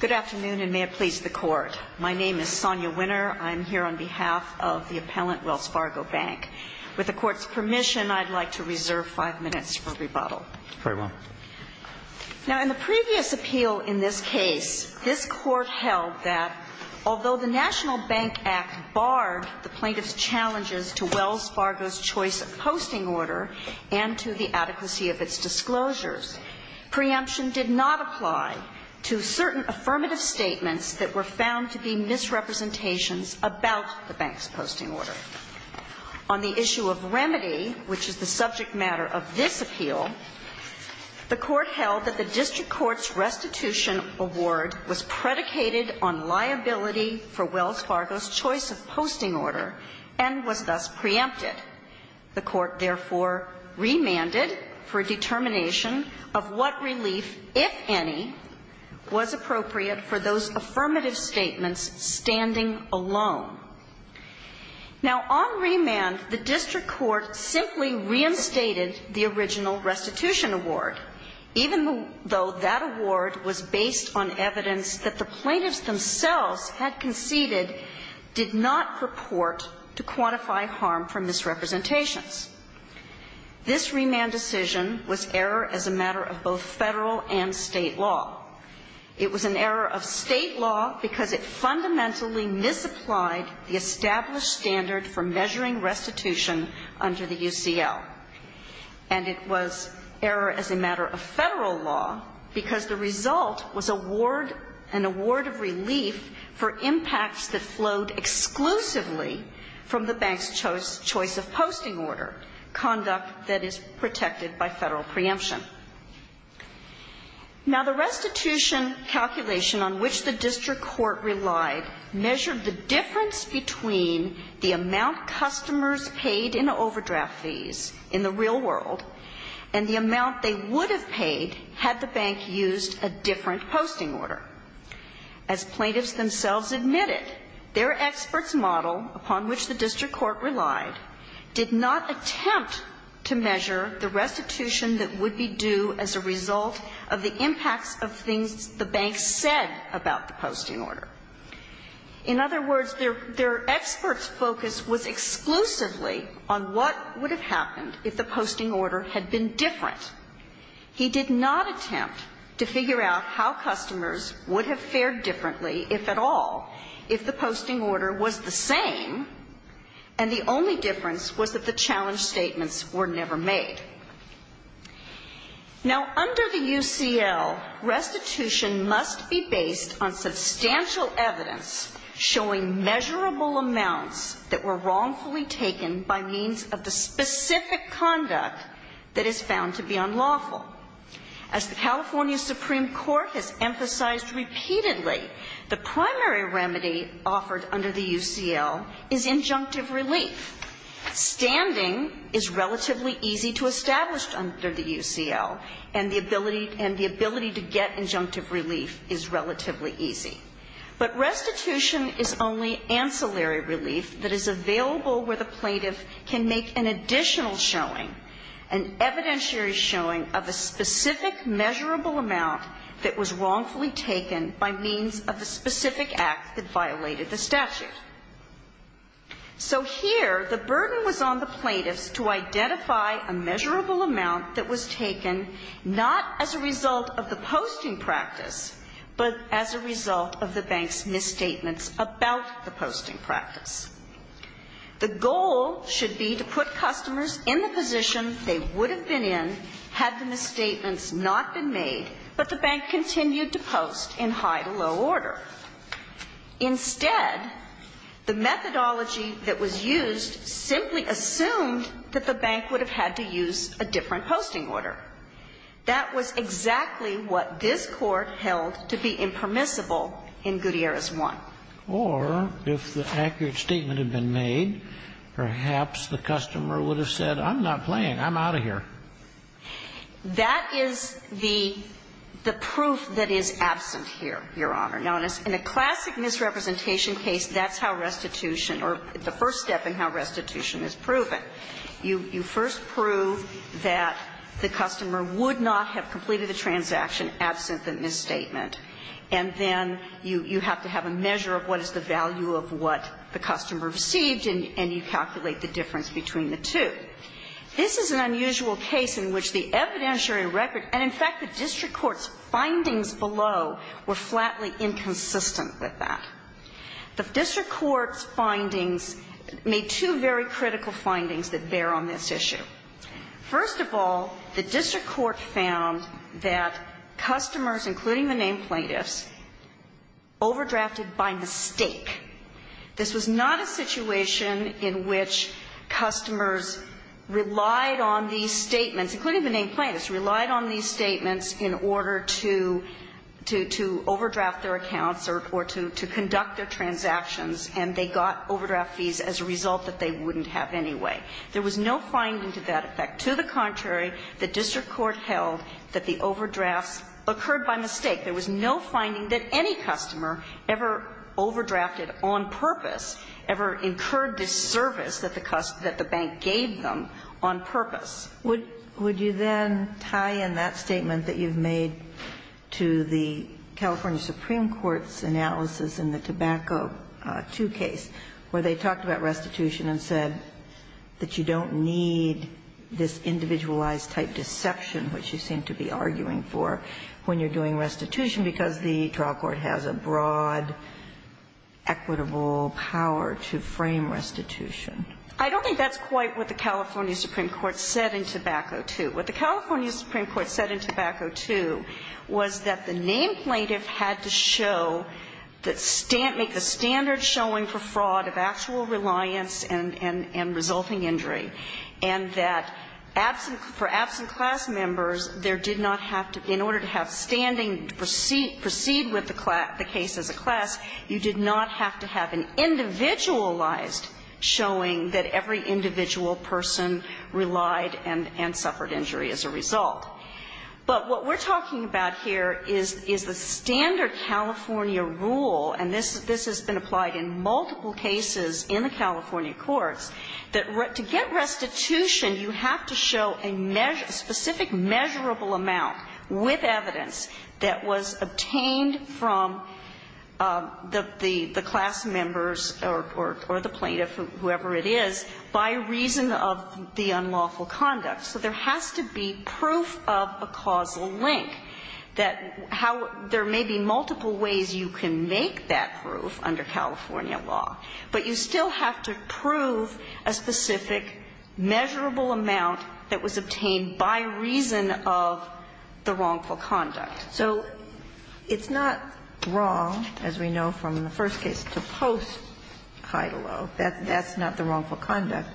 Good afternoon, and may it please the Court. My name is Sonia Winner. I'm here on behalf of the appellant, Wells Fargo Bank. With the Court's permission, I'd like to reserve five minutes for rebuttal. Very well. Now, in the previous appeal in this case, this Court held that although the National Bank Act barred the plaintiff's challenges to Wells Fargo's choice of posting order and to the adequacy of its disclosures, preemption did not apply to certain affirmative statements that were found to be misrepresentations about the bank's posting order. On the issue of remedy, which is the subject matter of this appeal, the Court held that the district court's restitution award was predicated on liability for Wells Fargo's choice of posting order, and was thus preempted. The Court therefore remanded for determination of what relief, if any, was appropriate for those affirmative statements standing alone. Now, on remand, the district court simply reinstated the original restitution award, even though that award was based on evidence that the plaintiff's claims themselves had conceded did not purport to quantify harm for misrepresentations. This remand decision was error as a matter of both Federal and State law. It was an error of State law because it fundamentally misapplied the established standard for measuring restitution under the UCL. And it was error as a matter of Federal law because the result was award, an award of relief for impacts that flowed exclusively from the bank's choice of posting order, conduct that is protected by Federal preemption. Now, the restitution calculation on which the district court relied measured the difference between the amount customers paid in overdraft fees in the real world and the amount they would have paid had the bank used a different posting order. As plaintiffs themselves admitted, their experts' model, upon which the district court relied, did not attempt to measure the restitution that would be due as a result of the impacts of things the bank said about the posting order. In other words, their experts' focus was exclusively on what would have happened if the posting order had been different. He did not attempt to figure out how customers would have fared differently, if at all, if the posting order was the same, and the only difference was that the challenge statements were never made. Now, under the UCL, restitution must be based on substantial evidence showing measurable amounts that were wrongfully taken by means of the specific conduct that is found to be unlawful. As the California Supreme Court has emphasized repeatedly, the primary remedy offered under the UCL is injunctive relief. Standing is relatively easy to establish under the UCL, and the ability to get injunctive relief is relatively easy. But restitution is only ancillary relief that is available where the plaintiff can make an additional showing, an evidentiary showing of a specific measurable amount that was wrongfully taken by means of the specific act that violated the statute. So here, the burden was on the plaintiffs to identify a measurable amount that was taken not as a result of the posting practice, but as a result of the bank's misstatements about the posting practice. The goal should be to put customers in the position they would have been in had the misstatements not been made, but the bank continued to post in high to low order. Instead, the methodology that was used simply assumed that the bank would have had to use a different posting order. That was exactly what this Court held to be impermissible in Gutierrez I. Or if the accurate statement had been made, perhaps the customer would have said, I'm not playing. I'm out of here. That is the proof that is absent here, Your Honor. Now, in a classic misrepresentation case, that's how restitution or the first step in how restitution is proven. You first prove that the customer would not have completed the transaction absent the misstatement. And then you have to have a measure of what is the value of what the customer received, and you calculate the difference between the two. This is an unusual case in which the evidentiary record and, in fact, the district court's findings below were flatly inconsistent with that. The district court's findings made two very critical findings that bear on this issue. First of all, the district court found that customers, including the named plaintiffs, overdrafted by mistake. This was not a situation in which customers relied on these statements, including the named plaintiffs, relied on these statements in order to overdraft their accounts or to conduct their transactions, and they got overdraft fees as a result that they wouldn't have anyway. There was no finding to that effect. To the contrary, the district court held that the overdrafts occurred by mistake. There was no finding that any customer ever overdrafted on purpose, ever incurred this service that the bank gave them on purpose. Would you then tie in that statement that you've made to the California Supreme Court's analysis in the Tobacco II case, where they talked about restitution and said that you don't need this individualized-type deception, which you seem to be arguing for when you're doing restitution because the trial court has a broad equitable power to frame restitution? I don't think that's quite what the California Supreme Court said in Tobacco II. What the California Supreme Court said in Tobacco II was that the named plaintiff had to show that the standard showing for fraud of actual reliance and resulting injury, and that for absent class members, there did not have to be, in order to have standing to proceed with the case as a class, you did not have to have an individualized showing that every individual person relied and suffered injury as a result. But what we're talking about here is the standard California rule, and this has been implied in multiple cases in the California courts, that to get restitution, you have to show a specific measurable amount with evidence that was obtained from the class members or the plaintiff, whoever it is, by reason of the unlawful conduct. So there has to be proof of a causal link. There may be multiple ways you can make that proof under California law, but you still have to prove a specific measurable amount that was obtained by reason of the wrongful conduct. So it's not wrong, as we know from the first case, to post Heidelo. That's not the wrongful conduct.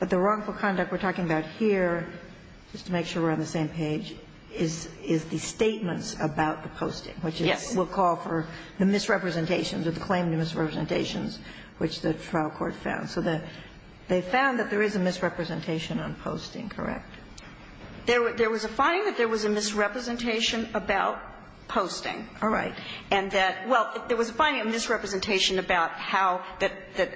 But the wrongful conduct we're talking about here, just to make sure we're on the same page, is the statements about the posting, which will call for the misrepresentations or the claim to misrepresentations which the trial court found. So they found that there is a misrepresentation on posting, correct? There was a finding that there was a misrepresentation about posting. All right. And that, well, there was a finding, a misrepresentation about how that the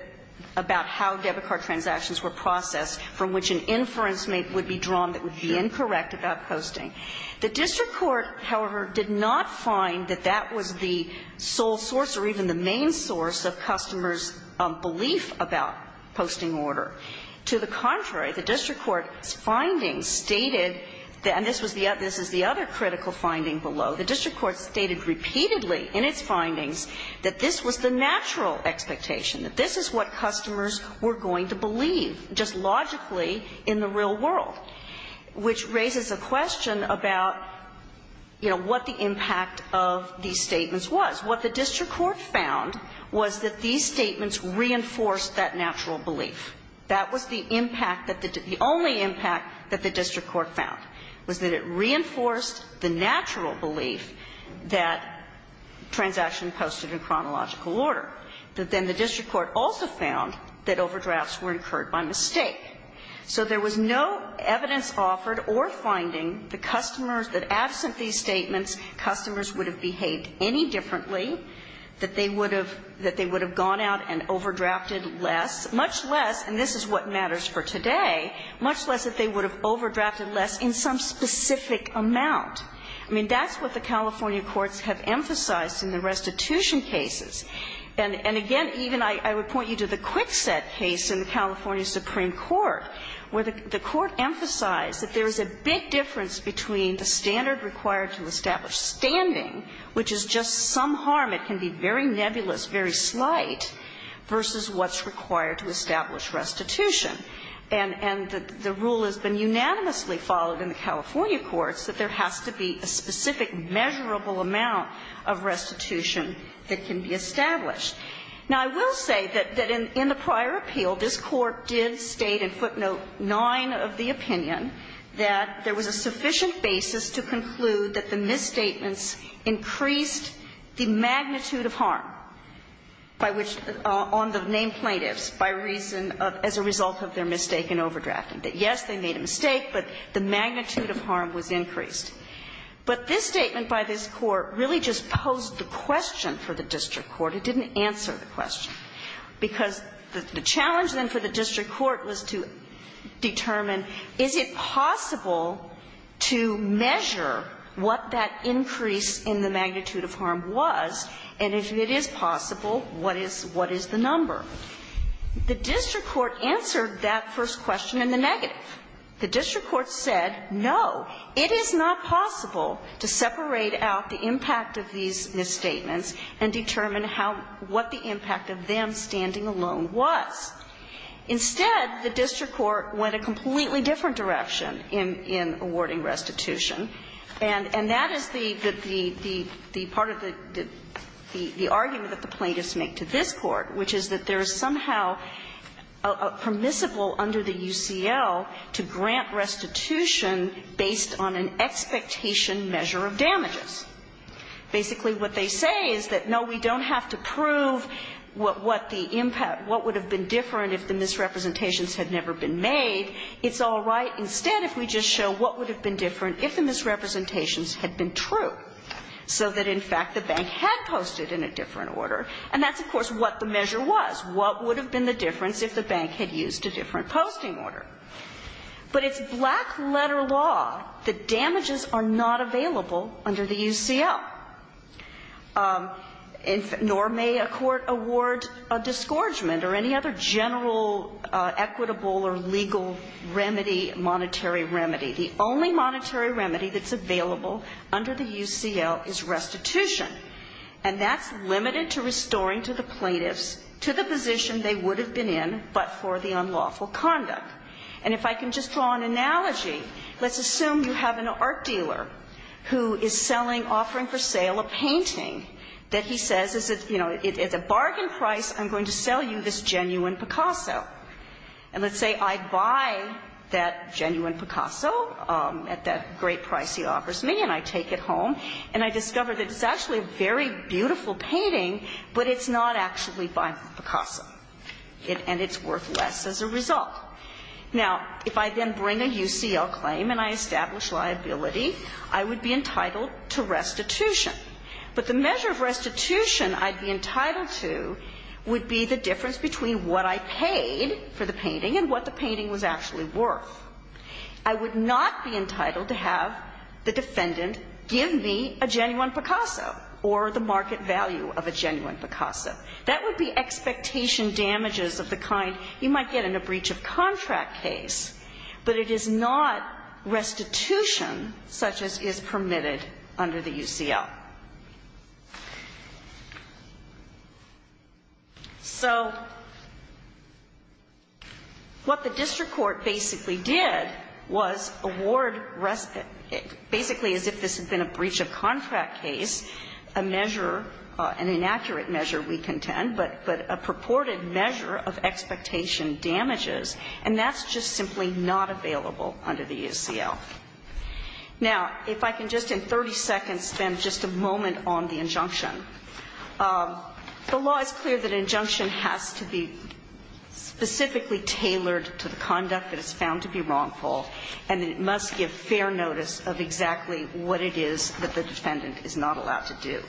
debit card transactions were processed, from which an inference would be drawn that would be incorrect about posting. The district court, however, did not find that that was the sole source or even the main source of customers' belief about posting order. To the contrary, the district court's findings stated, and this is the other critical finding below, the district court stated repeatedly in its findings that this was the natural expectation, that this is what customers were going to believe, just logically, in the real world, which raises a question about, you know, what the impact of these statements was. What the district court found was that these statements reinforced that natural belief. That was the impact that the only impact that the district court found, was that it reinforced the natural belief that transaction posted in chronological order. That then the district court also found that overdrafts were incurred by mistake. So there was no evidence offered or finding the customers that absent these statements, customers would have behaved any differently, that they would have gone out and overdrafted less, much less, and this is what matters for today, much less that they would have overdrafted less in some specific amount. I mean, that's what the California courts have emphasized in the restitution cases. And again, even I would point you to the Kwikset case in the California Supreme Court, where the court emphasized that there is a big difference between the standard required to establish standing, which is just some harm, it can be very nebulous, very slight, versus what's required to establish restitution. And the rule has been unanimously followed in the California courts that there has to be a specific measurable amount of restitution that can be established. Now, I will say that in the prior appeal, this Court did state in footnote 9 of the opinion that there was a sufficient basis to conclude that the misstatements increased the magnitude of harm by which the name plaintiffs, by reason of, as a result of their mistake in overdrafting, that, yes, they made a mistake, but the magnitude of harm was increased. But this statement by this Court really just posed the question for the district court. It didn't answer the question, because the challenge, then, for the district court was to determine, is it possible to measure what that increase in the magnitude of harm was, and if it is possible, what is the number? The district court answered that first question in the negative. The district court said, no, it is not possible to separate out the impact of these misstatements and determine how what the impact of them standing alone was. Instead, the district court went a completely different direction in awarding restitution, and that is the part of the argument that the plaintiffs make to this Court, which is that there is somehow a permissible under the UCL to grant restitution based on an expectation measure of damages. Basically, what they say is that, no, we don't have to prove what the impact, what would have been different if the misrepresentations had never been made. It's all right. Instead, if we just show what would have been different if the misrepresentations had been true, so that, in fact, the bank had posted in a different order. And that's, of course, what the measure was. What would have been the difference if the bank had used a different posting order? But it's black-letter law that damages are not available under the UCL. Nor may a court award a disgorgement or any other general equitable or legal remedy, monetary remedy. The only monetary remedy that's available under the UCL is restitution. And that's limited to restoring to the plaintiffs, to the position they would have been in, but for the unlawful conduct. And if I can just draw an analogy, let's assume you have an art dealer who is selling, offering for sale, a painting that he says is, you know, at a bargain price, I'm going to sell you this genuine Picasso. And let's say I buy that genuine Picasso at that great price he offers me, and I take it home. And I discover that it's actually a very beautiful painting, but it's not actually by Picasso. And it's worth less as a result. Now, if I then bring a UCL claim and I establish liability, I would be entitled to restitution. But the measure of restitution I'd be entitled to would be the difference between what I paid for the painting and what the painting was actually worth. I would not be entitled to have the defendant give me a genuine Picasso or the market value of a genuine Picasso. That would be expectation damages of the kind you might get in a breach of contract case. But it is not restitution such as is permitted under the UCL. So what the district court basically did was award rest, basically as if this had been a breach of contract case, a measure, an inaccurate measure we contend, but a purported measure of expectation damages, and that's just simply not available under the UCL. Now, if I can just in 30 seconds spend just a moment on the injunction. The law is clear that an injunction has to be specifically tailored to the conduct that is found to be wrongful, and it must give fair notice of exactly what it is that the defendant is not allowed to do.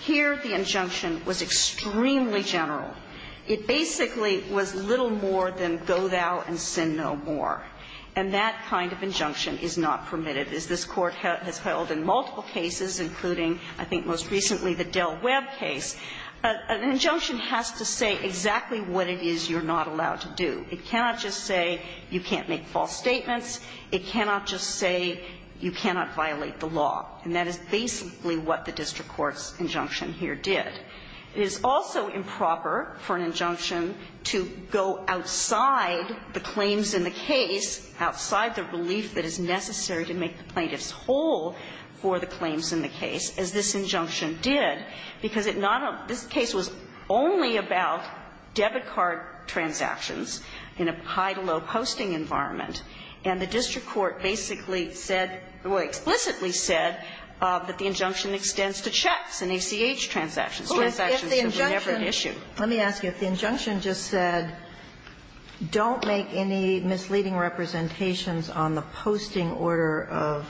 Here, the injunction was extremely general. It basically was little more than go thou and sin no more. And that kind of injunction is not permitted, as this Court has held in multiple cases, including, I think most recently, the Del Webb case. An injunction has to say exactly what it is you're not allowed to do. It cannot just say you can't make false statements. It cannot just say you cannot violate the law. And that is basically what the district court's injunction here did. It is also improper for an injunction to go outside the claims in the case, outside the relief that is necessary to make the plaintiffs whole for the claims in the case, as this injunction did, because it not only this case was only about debit card transactions in a high-to-low posting environment, and the district court basically said, or explicitly said, that the injunction extends to checks and ACH transactions. Transactions should be never an issue. Sotomayor, let me ask you, if the injunction just said, don't make any misleading representations on the posting order of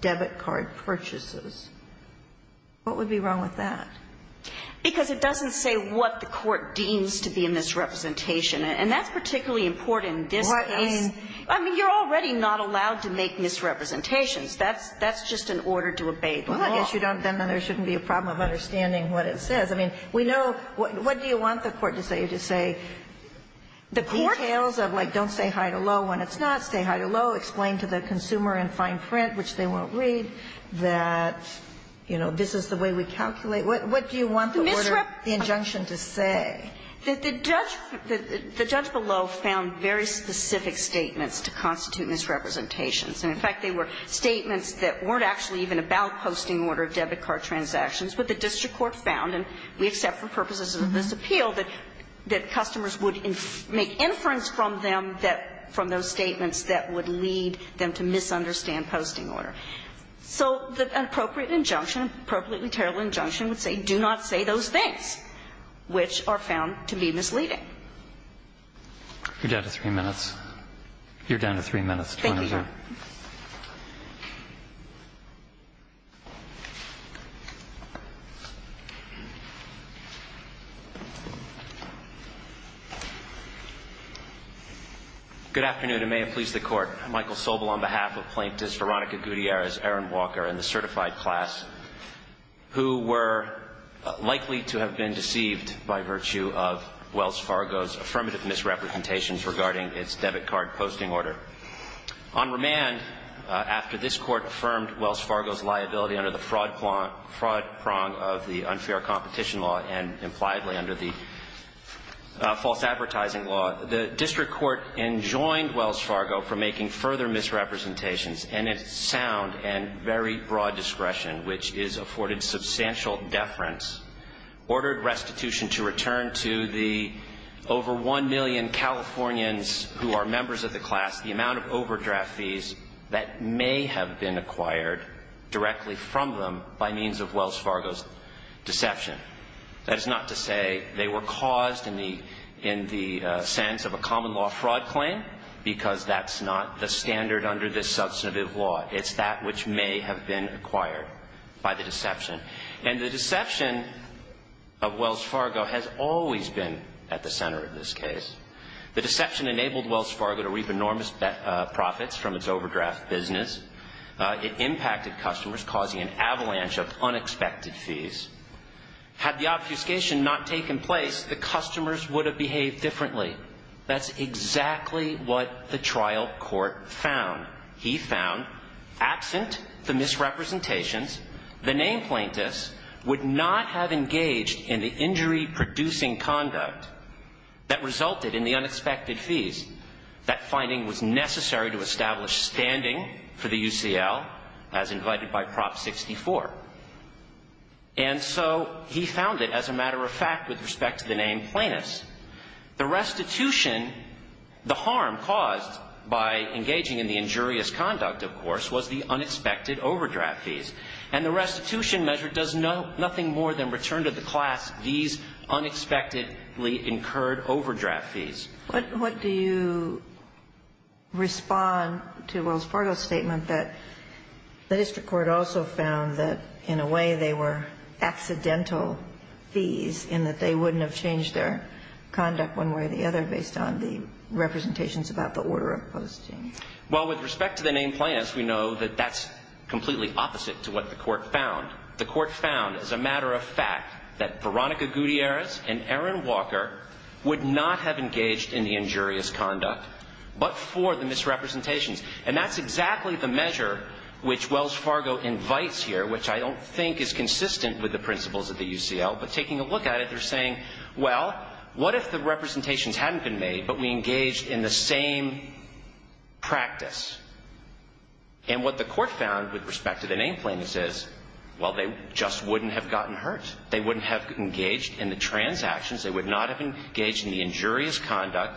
debit card purchases, what would be wrong with that? Because it doesn't say what the court deems to be a misrepresentation. And that's particularly important in this case. I mean, you're already not allowed to make misrepresentations. That's just an order to obey the law. Well, I guess you don't then there shouldn't be a problem of understanding what it says. I mean, we know, what do you want the court to say? To say details of, like, don't say high-to-low when it's not, say high-to-low, explain to the consumer in fine print, which they won't read, that, you know, this is the way we calculate. What do you want the order, the injunction to say? That the judge below found very specific statements to constitute misrepresentations. And, in fact, they were statements that weren't actually even about posting order of debit card transactions. But the district court found, and we accept for purposes of this appeal, that customers would make inference from them that those statements that would lead them to misunderstand posting order. So an appropriate injunction, appropriately terrible injunction, would say, do not say those things, which are found to be misleading. You're down to three minutes. You're down to three minutes. Thank you, Your Honor. Good afternoon, and may it please the Court. I'm Michael Sobel on behalf of Plaintiffs Veronica Gutierrez, Erin Walker, and the to have been deceived by virtue of Wells Fargo's affirmative misrepresentations regarding its debit card posting order. On remand, after this Court affirmed Wells Fargo's liability under the fraud prong of the unfair competition law and impliedly under the false advertising law, the district court enjoined Wells Fargo from making further misrepresentations and its sound and very broad discretion, which is afforded substantial deference, ordered restitution to return to the over one million Californians who are members of the class the amount of overdraft fees that may have been acquired directly from them by means of Wells Fargo's deception. That is not to say they were caused in the sense of a common law fraud claim, because that's not the standard under this substantive law. It's that which may have been acquired by the deception. And the deception of Wells Fargo has always been at the center of this case. The deception enabled Wells Fargo to reap enormous profits from its overdraft business. It impacted customers, causing an avalanche of unexpected fees. Had the obfuscation not taken place, the customers would have behaved differently. That's exactly what the trial court found. He found, absent the misrepresentations, the named plaintiffs would not have engaged in the injury-producing conduct that resulted in the unexpected fees. That finding was necessary to establish standing for the UCL, as invited by Prop 64. And so he found it, as a matter of fact, with respect to the named plaintiffs. The restitution, the harm caused by engaging in the injurious conduct, of course, was the unexpected overdraft fees. And the restitution measure does nothing more than return to the class these unexpectedly incurred overdraft fees. But what do you respond to Wells Fargo's statement that the district court also found that, in a way, they were accidental fees, in that they wouldn't have changed their conduct one way or the other based on the representations about the order of posting? Well, with respect to the named plaintiffs, we know that that's completely opposite to what the court found. The court found, as a matter of fact, that Veronica Gutierrez and Aaron Walker would not have engaged in the injurious conduct, but for the misrepresentations. And that's exactly the measure which Wells Fargo invites here, which I don't think is consistent with the principles of the UCL. But taking a look at it, they're saying, well, what if the representations hadn't been made, but we engaged in the same practice? And what the court found with respect to the named plaintiffs is, well, they just wouldn't have gotten hurt. They wouldn't have engaged in the transactions. They would not have engaged in the injurious conduct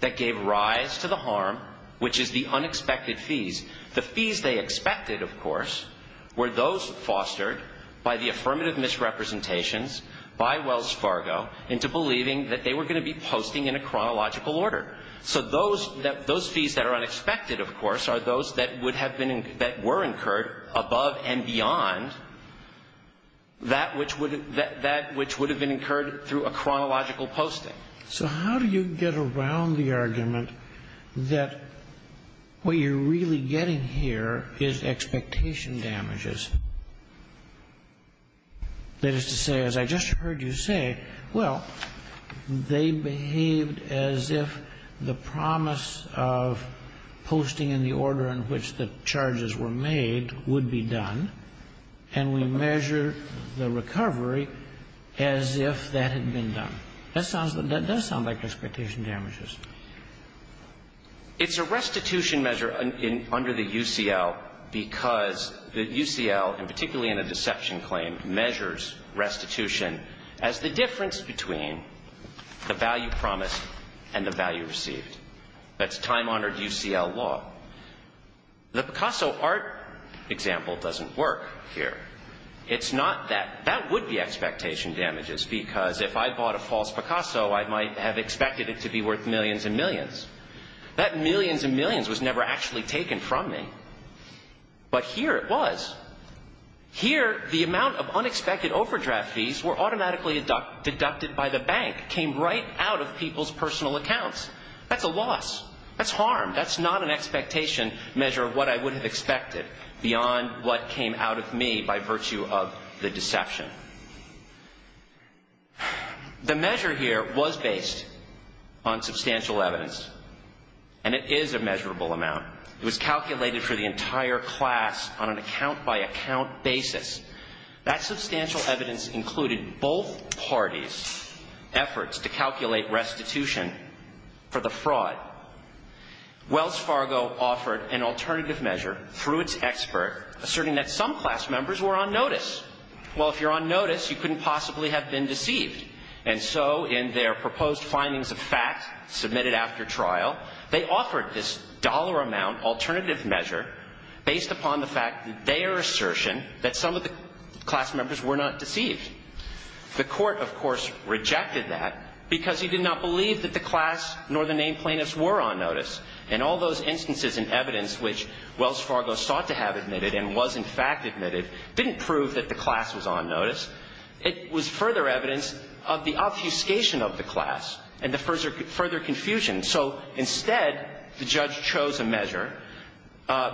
that gave rise to the harm, which is the unexpected fees. The fees they expected, of course, were those fostered by the affirmative misrepresentations by Wells Fargo into believing that they were going to be posting in a chronological order. So those fees that are unexpected, of course, are those that would have been incurred above and beyond that which would have been incurred through a chronological posting. So how do you get around the argument that what you're really getting here is expectation damages? That is to say, as I just heard you say, well, they behaved as if the promise of posting in the order in which the charges were made would be done. And we measure the recovery as if that had been done. That does sound like expectation damages. It's a restitution measure under the UCL because the UCL, and particularly in a deception claim, measures restitution as the difference between the value promised and the value received. That's time-honored UCL law. The Picasso art example doesn't work here. It's not that that would be expectation damages because if I bought a false Picasso, I might have expected it to be worth millions and millions. That millions and millions was never actually taken from me. But here it was. Here, the amount of unexpected overdraft fees were automatically deducted by the bank, came right out of people's personal accounts. That's a loss. That's harm. That's not an expectation measure of what I would have expected beyond what came out of me by virtue of the deception. The measure here was based on substantial evidence. And it is a measurable amount. It was calculated for the entire class on an account-by-account basis. That substantial evidence included both parties' efforts to calculate restitution for the fraud. Wells Fargo offered an alternative measure through its expert, asserting that some class members were on notice. Well, if you're on notice, you couldn't possibly have been deceived. And so in their proposed findings of fact, submitted after trial, they offered this dollar amount alternative measure based upon the fact that their assertion that some of the class members were not deceived. The court, of course, rejected that because he did not believe that the class nor the named plaintiffs were on notice. And all those instances and evidence which Wells Fargo sought to have admitted and was in fact admitted didn't prove that the class was on notice. It was further evidence of the obfuscation of the class and the further confusion. So instead, the judge chose a measure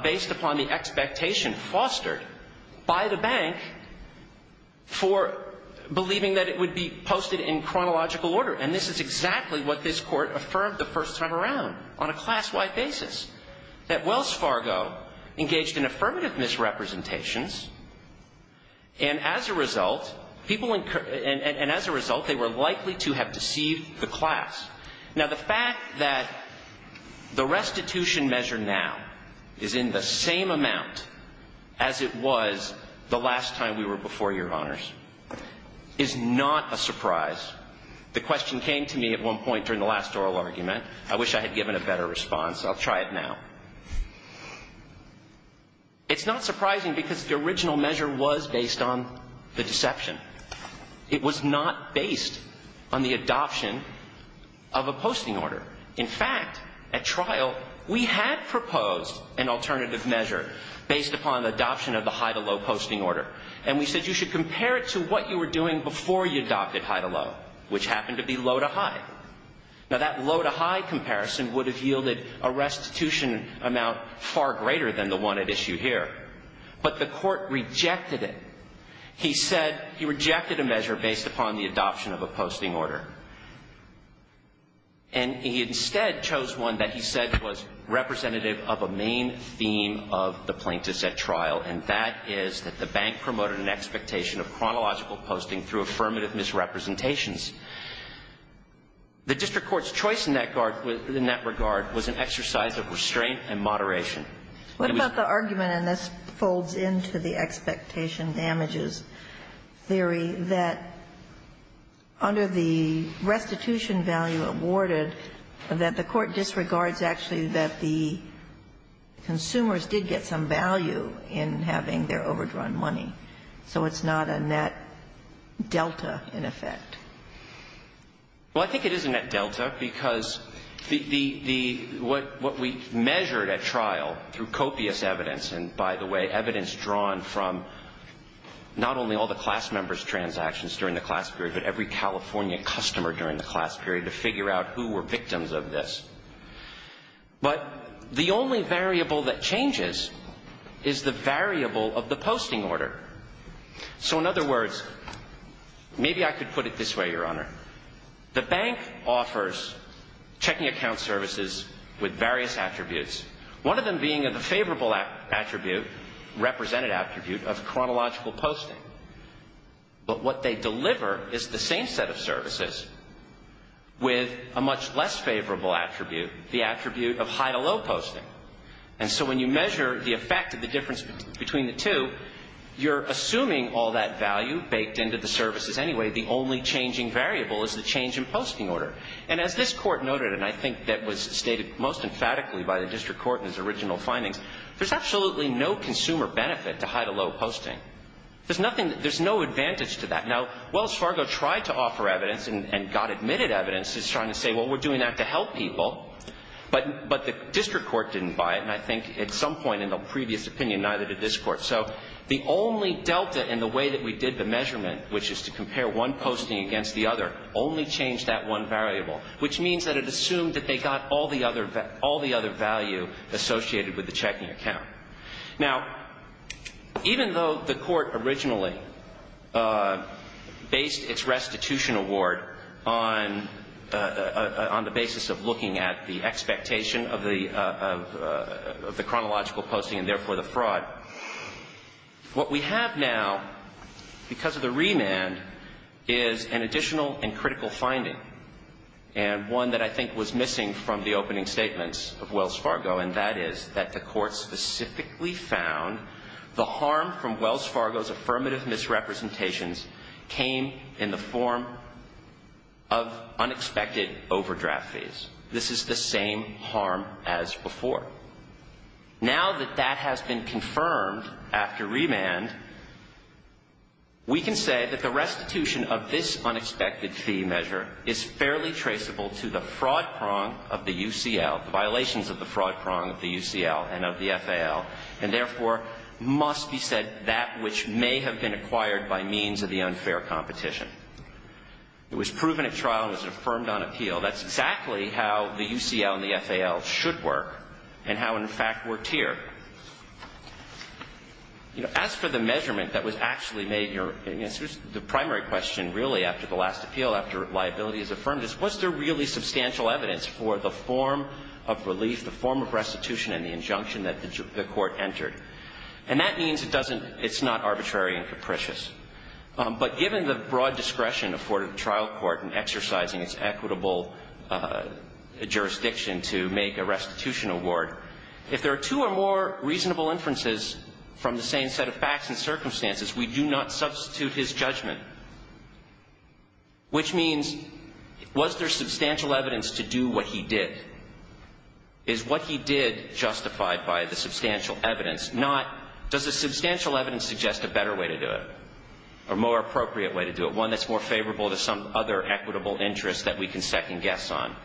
based upon the expectation fostered by the bank for believing that it would be posted in chronological order. And this is exactly what this Court affirmed the first time around on a class-wide basis, that Wells Fargo engaged in affirmative misrepresentations. And as a result, people and as a result, they were likely to have deceived the class. Now, the fact that the restitution measure now is in the same amount as it was the last time we were before Your Honors is not a surprise. The question came to me at one point during the last oral argument. I wish I had given a better response. I'll try it now. It's not surprising because the original measure was based on the deception. It was not based on the adoption of a posting order. In fact, at trial, we had proposed an alternative measure based upon the adoption of the high-to-low posting order. And we said you should compare it to what you were doing before you adopted high-to-low, which happened to be low-to-high. Now, that low-to-high comparison would have yielded a restitution amount far greater than the one at issue here. But the Court rejected it. He said he rejected a measure based upon the adoption of a posting order. And he instead chose one that he said was representative of a main theme of the plaintiffs at trial, and that is that the bank promoted an expectation of chronological posting through affirmative misrepresentations. The district court's choice in that regard was an exercise of restraint and moderation. What about the argument, and this folds into the expectation damages theory, that under the restitution value awarded, that the Court disregards actually that the consumers did get some value in having their overdrawn money. So it's not a net delta, in effect. Well, I think it is a net delta because the, the, the, what, what we measured at trial through copious evidence, and by the way, evidence drawn from not only all the class members' transactions during the class period, but every California customer during the class period to figure out who were victims of this. But the only variable that changes is the variable of the posting order. So in other words, maybe I could put it this way, Your Honor. The bank offers checking account services with various attributes, one of them being of a favorable attribute, represented attribute of chronological posting. But what they deliver is the same set of services with a much less favorable attribute, the attribute of high to low posting. And so when you measure the effect of the difference between the two, you're assuming all that value baked into the services anyway. The only changing variable is the change in posting order. And as this Court noted, and I think that was stated most emphatically by the District Court in its original findings, there's absolutely no consumer benefit to high to low posting. There's nothing, there's no advantage to that. Now, Wells Fargo tried to offer evidence and, and got admitted evidence. It's trying to say, well, we're doing that to help people. But, but the District Court didn't buy it. And I think at some point in the previous opinion, neither did this Court. So the only delta in the way that we did the measurement, which is to compare one posting against the other, only changed that one variable, which means that it assumed that they got all the other, all the other value associated with the checking account. Now, even though the Court originally based its restitution award on, on the basis of What we have now, because of the remand, is an additional and critical finding. And one that I think was missing from the opening statements of Wells Fargo. And that is that the Court specifically found the harm from Wells Fargo's affirmative misrepresentations came in the form of unexpected overdraft fees. This is the same harm as before. Now that that has been confirmed after remand, we can say that the restitution of this unexpected fee measure is fairly traceable to the fraud prong of the UCL, the violations of the fraud prong of the UCL and of the FAL. And therefore, must be said that which may have been acquired by means of the unfair competition. It was proven at trial and was affirmed on appeal. That's exactly how the UCL and the FAL should work. And how, in fact, were tiered. You know, as for the measurement that was actually made, the primary question, really, after the last appeal, after liability is affirmed, is was there really substantial evidence for the form of relief, the form of restitution and the injunction that the Court entered. And that means it doesn't, it's not arbitrary and capricious. But given the broad discretion afforded to the trial court in exercising its equitable jurisdiction to make a restitution award, if there are two or more reasonable inferences from the same set of facts and circumstances, we do not substitute his judgment. Which means, was there substantial evidence to do what he did? Is what he did justified by the substantial evidence? Not, does the substantial evidence suggest a better way to do it? Or a more appropriate way to do it? One that's more favorable to some other equitable interest that we can second guess on.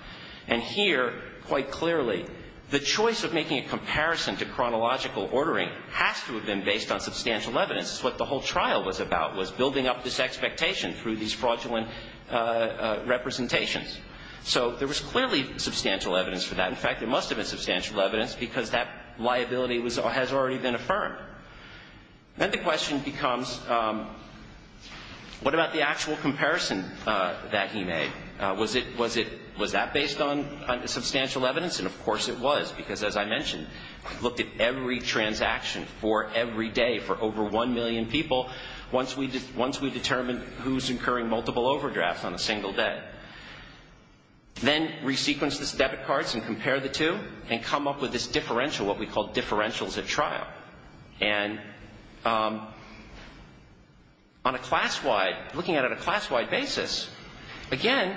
And here, quite clearly, the choice of making a comparison to chronological ordering has to have been based on substantial evidence. It's what the whole trial was about, was building up this expectation through these fraudulent representations. So there was clearly substantial evidence for that. In fact, there must have been substantial evidence because that liability has already been affirmed. Then the question becomes, what about the actual comparison that he made? Was it, was it, was that based on substantial evidence? And of course it was. Because as I mentioned, we looked at every transaction for every day for over one million people once we, once we determined who's incurring multiple overdrafts on a single day. Then resequence this debit cards and compare the two and come up with this differential, what we call differentials at trial. And on a class-wide, looking at it on a class-wide basis, again,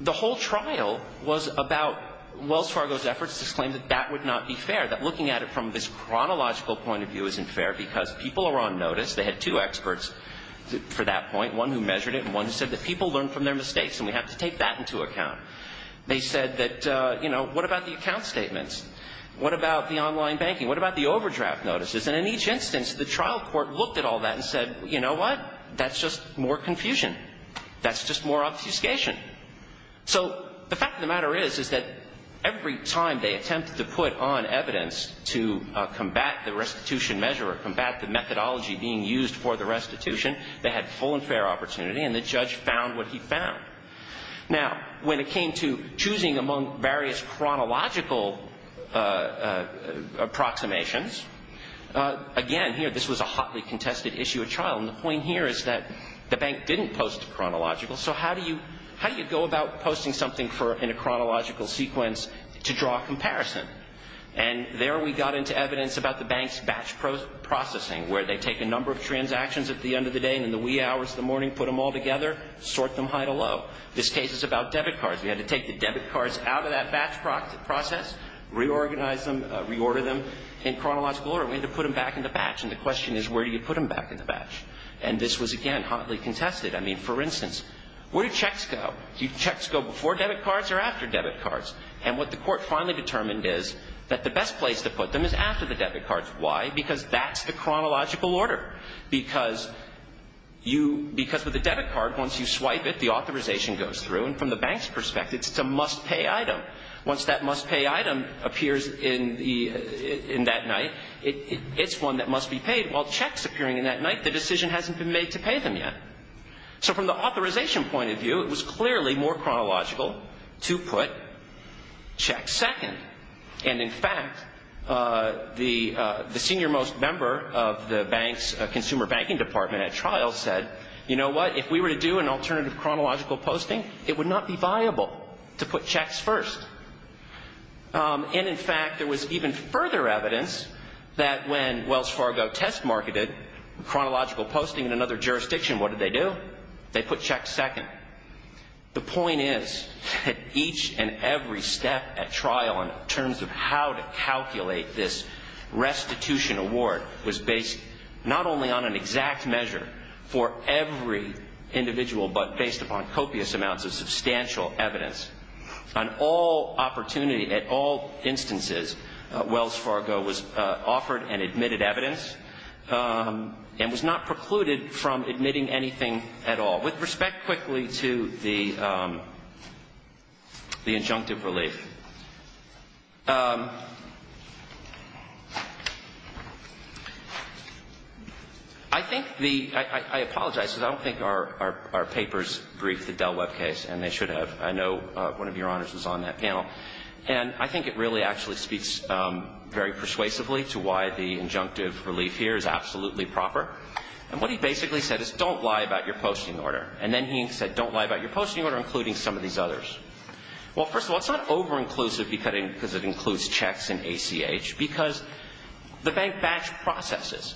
the whole trial was about Wells Fargo's efforts to claim that that would not be fair. That looking at it from this chronological point of view isn't fair because people are on notice. They had two experts for that point. One who measured it and one who said that people learn from their mistakes and we have to take that into account. They said that, you know, what about the account statements? What about the online banking? What about the overdraft notices? And in each instance, the trial court looked at all that and said, you know what? That's just more confusion. That's just more obfuscation. So the fact of the matter is, is that every time they attempted to put on evidence to combat the restitution measure or combat the methodology being used for the restitution, they had full and fair opportunity and the judge found what he found. Now, when it came to choosing among various chronological approximations, again, here this was a hotly contested issue at trial and the point here is that the bank didn't post a chronological, so how do you go about posting something in a chronological sequence to draw a comparison? And there we got into evidence about the bank's batch processing where they take a number of transactions at the end of the day and in the wee hours of the morning put them all together, sort them high to low. This case is about debit cards. We had to take the debit cards out of that batch process, reorganize them, reorder them in chronological order. We had to put them back in the batch. And the question is, where do you put them back in the batch? And this was, again, hotly contested. I mean, for instance, where do checks go? Do checks go before debit cards or after debit cards? And what the court finally determined is that the best place to put them is after the debit cards. Why? Because that's the chronological order. Because with a debit card, once you swipe it, the authorization goes through and from the bank's perspective, it's a must-pay item. Once that must-pay item appears in that night, it's one that must be paid. While checks appearing in that night, the decision hasn't been made to pay them yet. So from the authorization point of view, it was clearly more chronological to put checks second. And in fact, the senior most member of the bank's consumer banking department at trial said, you know what? If we were to do an alternative chronological posting, it would not be first. And in fact, there was even further evidence that when Wells Fargo test marketed chronological posting in another jurisdiction, what did they do? They put checks second. The point is that each and every step at trial in terms of how to calculate this restitution award was based not only on an exact measure for every individual, but based upon copious amounts of substantial evidence. On all opportunity, at all instances, Wells Fargo was offered and admitted evidence and was not precluded from admitting anything at all. With respect quickly to the injunctive relief, I apologize because I don't think our papers briefed the Dell web case, and they should have. I know one of your honors was on that panel. And I think it really actually speaks very persuasively to why the injunctive relief here is absolutely proper. And what he basically said is, don't lie about your posting order. And then he said, don't lie about your posting order, including some of these others. Well, first of all, it's not over-inclusive because it includes checks and ACH, because the bank batch processes.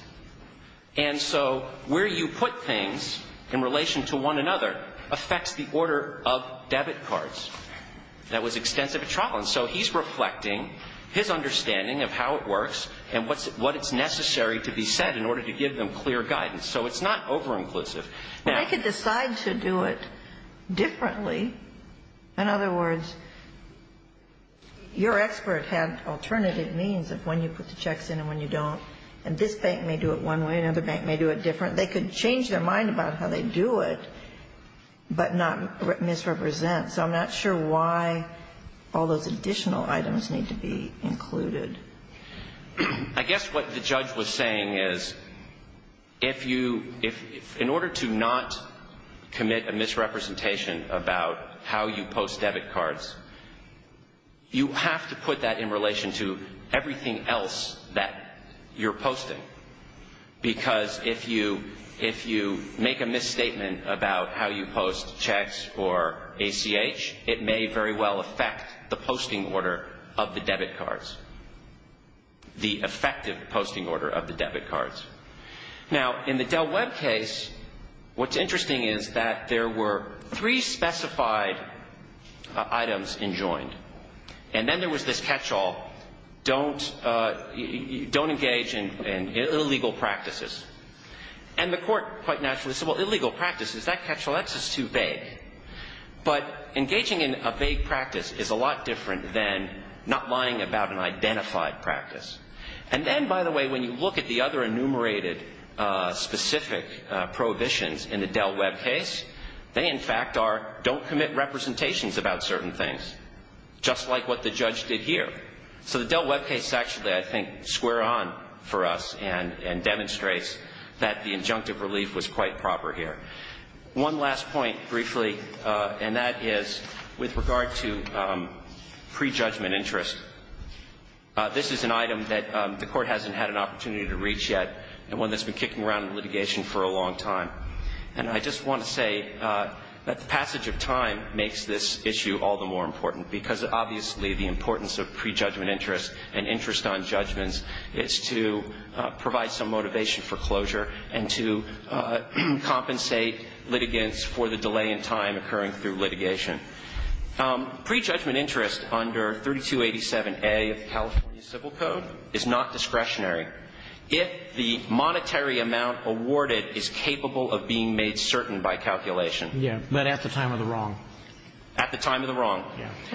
And so where you put things in relation to one another affects the order of debit cards. That was extensive at trial. And so he's reflecting his understanding of how it works and what's necessary to be said in order to give them clear guidance. So it's not over-inclusive. I could decide to do it differently. In other words, your expert had alternative means of when you put the checks in and when you don't. And this bank may do it one way, another bank may do it different. They could change their mind about how they do it, but not misrepresent. So I'm not sure why all those additional items need to be included. I guess what the judge was saying is, in order to not commit a misrepresentation about how you post debit cards, you have to put that in relation to everything else that you're posting. Because if you make a misstatement about how you post checks or ACH, it may very well affect the posting order of the debit cards, the effective posting order of the debit cards. Now, in the Dell Web case, what's interesting is that there were three specified items enjoined. And then there was this catch-all. Don't engage in illegal practices. And the court quite naturally said, well, illegal practices, that catch-all, that's just too vague. But engaging in a vague practice is a lot different than not lying about an identified practice. And then, by the way, when you look at the other enumerated specific prohibitions in the Dell Web case, they in fact are, don't commit representations about certain things. Just like what the judge did here. So the Dell Web case actually, I think, square on for us and demonstrates that the injunctive relief was quite proper here. One last point, briefly, and that is with regard to prejudgment interest. This is an item that the court hasn't had an opportunity to reach yet, and one that's been kicking around in litigation for a long time. And I just want to say that the passage of time makes this issue all the more important, because obviously the importance of prejudgment interest and interest on judgments is to provide some motivation for closure and to compensate litigants for the delay in time occurring through litigation. Prejudgment interest under 3287A of the California Civil Code is not discretionary if the monetary amount awarded is capable of being made certain by calculation. But at the time of the wrong. At the time of the wrong.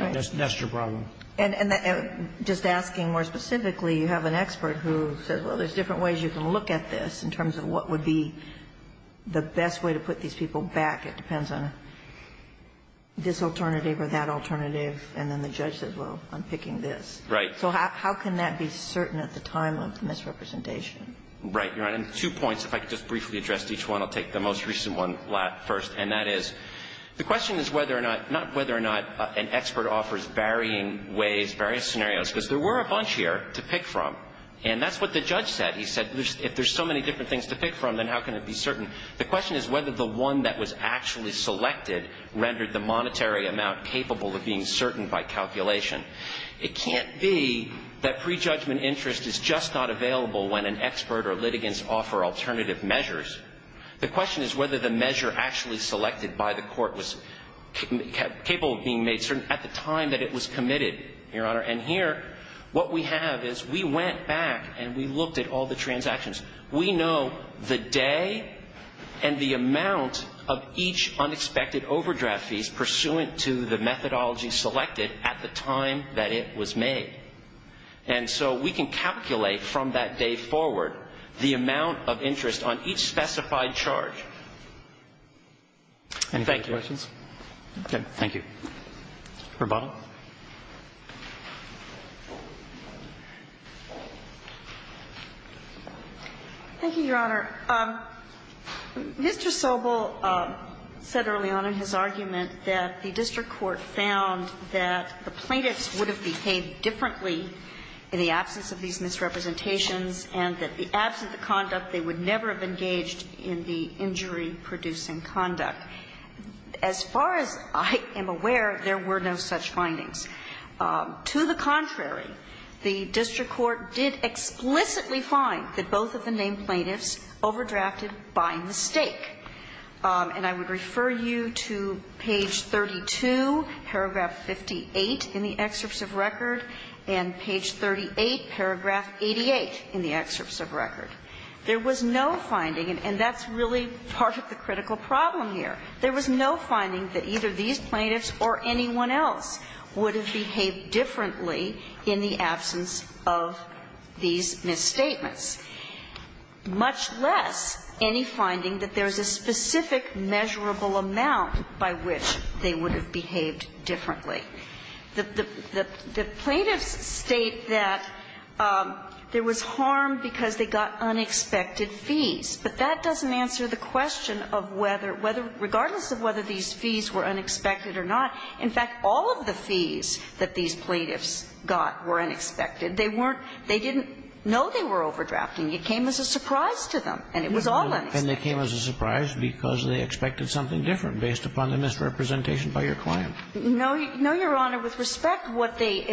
Yes. That's your problem. And just asking more specifically, you have an expert who said, well, there's different ways you can look at this in terms of what would be the best way to put these people back. It depends on this alternative or that alternative. And then the judge says, well, I'm picking this. Right. So how can that be certain at the time of misrepresentation? Right, Your Honor. And two points, if I could just briefly address each one. I'll take the most recent one first. And that is, the question is whether or not, not whether or not an expert offers varying ways, various scenarios. Because there were a bunch here to pick from. And that's what the judge said. He said, if there's so many different things to pick from, then how can it be certain? The question is whether the one that was actually selected rendered the monetary amount capable of being certain by calculation. It can't be that prejudgment interest is just not available when an expert or litigants offer alternative measures. The question is whether the measure actually selected by the court was capable of being made certain at the time that it was committed, Your Honor. And here, what we have is we went back and we looked at all the transactions. We know the day and the amount of each unexpected overdraft fees pursuant to the methodology selected at the time that it was made. And so we can calculate from that day forward the amount of interest on each specified charge. Any further questions? Okay. Thank you. Verbal. Thank you, Your Honor. Mr. Sobel said early on in his argument that the district court found that the plaintiffs would have behaved differently in the absence of these misrepresentations and that, absent the conduct, they would never have engaged in the injury-producing conduct. As far as I am aware, there were no such findings. To the contrary, the district court did explicitly find that both of the named plaintiffs overdrafted by mistake. And I would refer you to page 32, paragraph 58 in the excerpts of record and page 38, paragraph 88 in the excerpts of record. There was no finding, and that's really part of the critical problem here. There was no finding that either these plaintiffs or anyone else would have behaved differently in the absence of these misstatements, much less any finding that there is a specific measurable amount by which they would have behaved differently. The plaintiffs state that there was harm because they got unexpected fees, but that doesn't answer the question of whether, regardless of whether these fees were unexpected or not. In fact, all of the fees that these plaintiffs got were unexpected. They didn't know they were overdrafting. It came as a surprise to them, and it was all unexpected. And they came as a surprise because they expected something different based upon the misrepresentation by your client. No, Your Honor. With respect, what they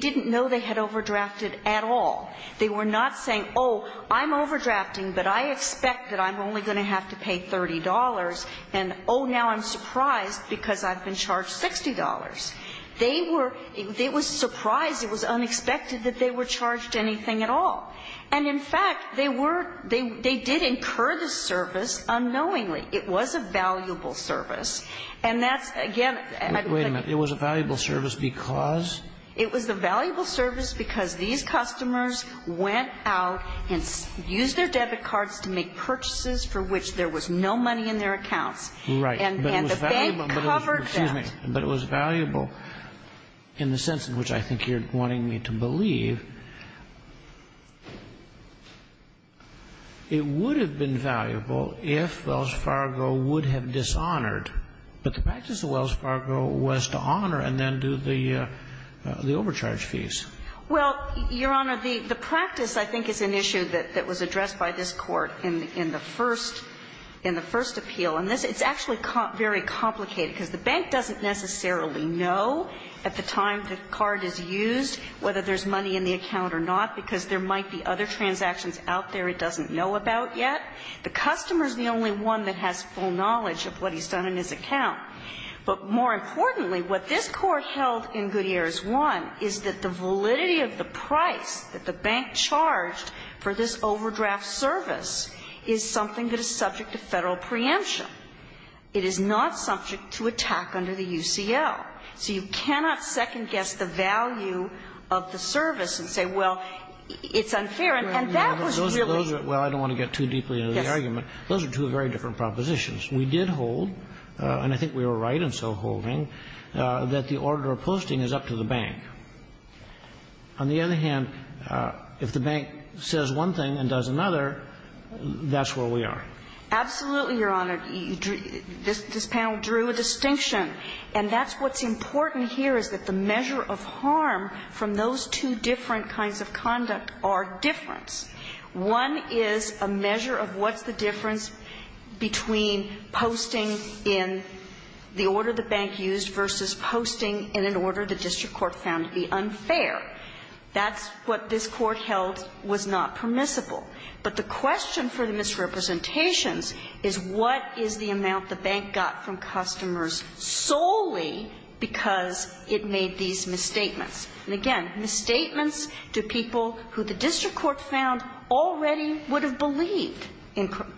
didn't know, they had overdrafted at all. They were not saying, oh, I'm overdrafting, but I expect that I'm only going to have to pay $30, and oh, now I'm surprised because I've been charged $60. They were surprised. It was unexpected that they were charged anything at all. And in fact, they were they did incur the service unknowingly. It was a valuable service. And that's, again, my complaint. Wait a minute. It was a valuable service because? It was a valuable service because these customers went out and used their debit cards to make purchases for which there was no money in their accounts. Right. And the bank covered that. But it was valuable in the sense in which I think you're wanting me to believe. It would have been valuable if Wells Fargo would have dishonored. But the practice of Wells Fargo was to honor and then do the overcharge fees. Well, Your Honor, the practice I think is an issue that was addressed by this court in the first appeal. And it's actually very complicated because the bank doesn't necessarily know at the time the card is used whether there's money in the account or not. Because there might be other transactions out there it doesn't know about yet. The customer is the only one that has full knowledge of what he's done in his account. But more importantly, what this court held in Gutierrez 1 is that the validity of the price that the bank charged for this overdraft service is something that is subject to federal preemption. It is not subject to attack under the UCL. So you cannot second-guess the value of the service and say, well, it's unfair. And that was really the case. Well, I don't want to get too deeply into the argument. Those are two very different propositions. We did hold, and I think we were right in so holding, that the order of posting is up to the bank. On the other hand, if the bank says one thing and does another, that's where we are. Absolutely, Your Honor. This panel drew a distinction. And that's what's important here is that the measure of harm from those two different kinds of conduct are difference. One is a measure of what's the difference between posting in the order the bank used versus posting in an order the district court found to be unfair. That's what this court held was not permissible. But the question for the misrepresentations is what is the amount the bank got from the customers solely because it made these misstatements? And again, misstatements to people who the district court found already would have believed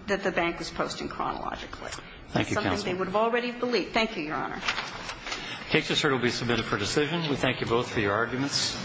that the bank was posting chronologically. Thank you, Counsel. That's something they would have already believed. Thank you, Your Honor. The case is here to be submitted for decision. We thank you both for your arguments.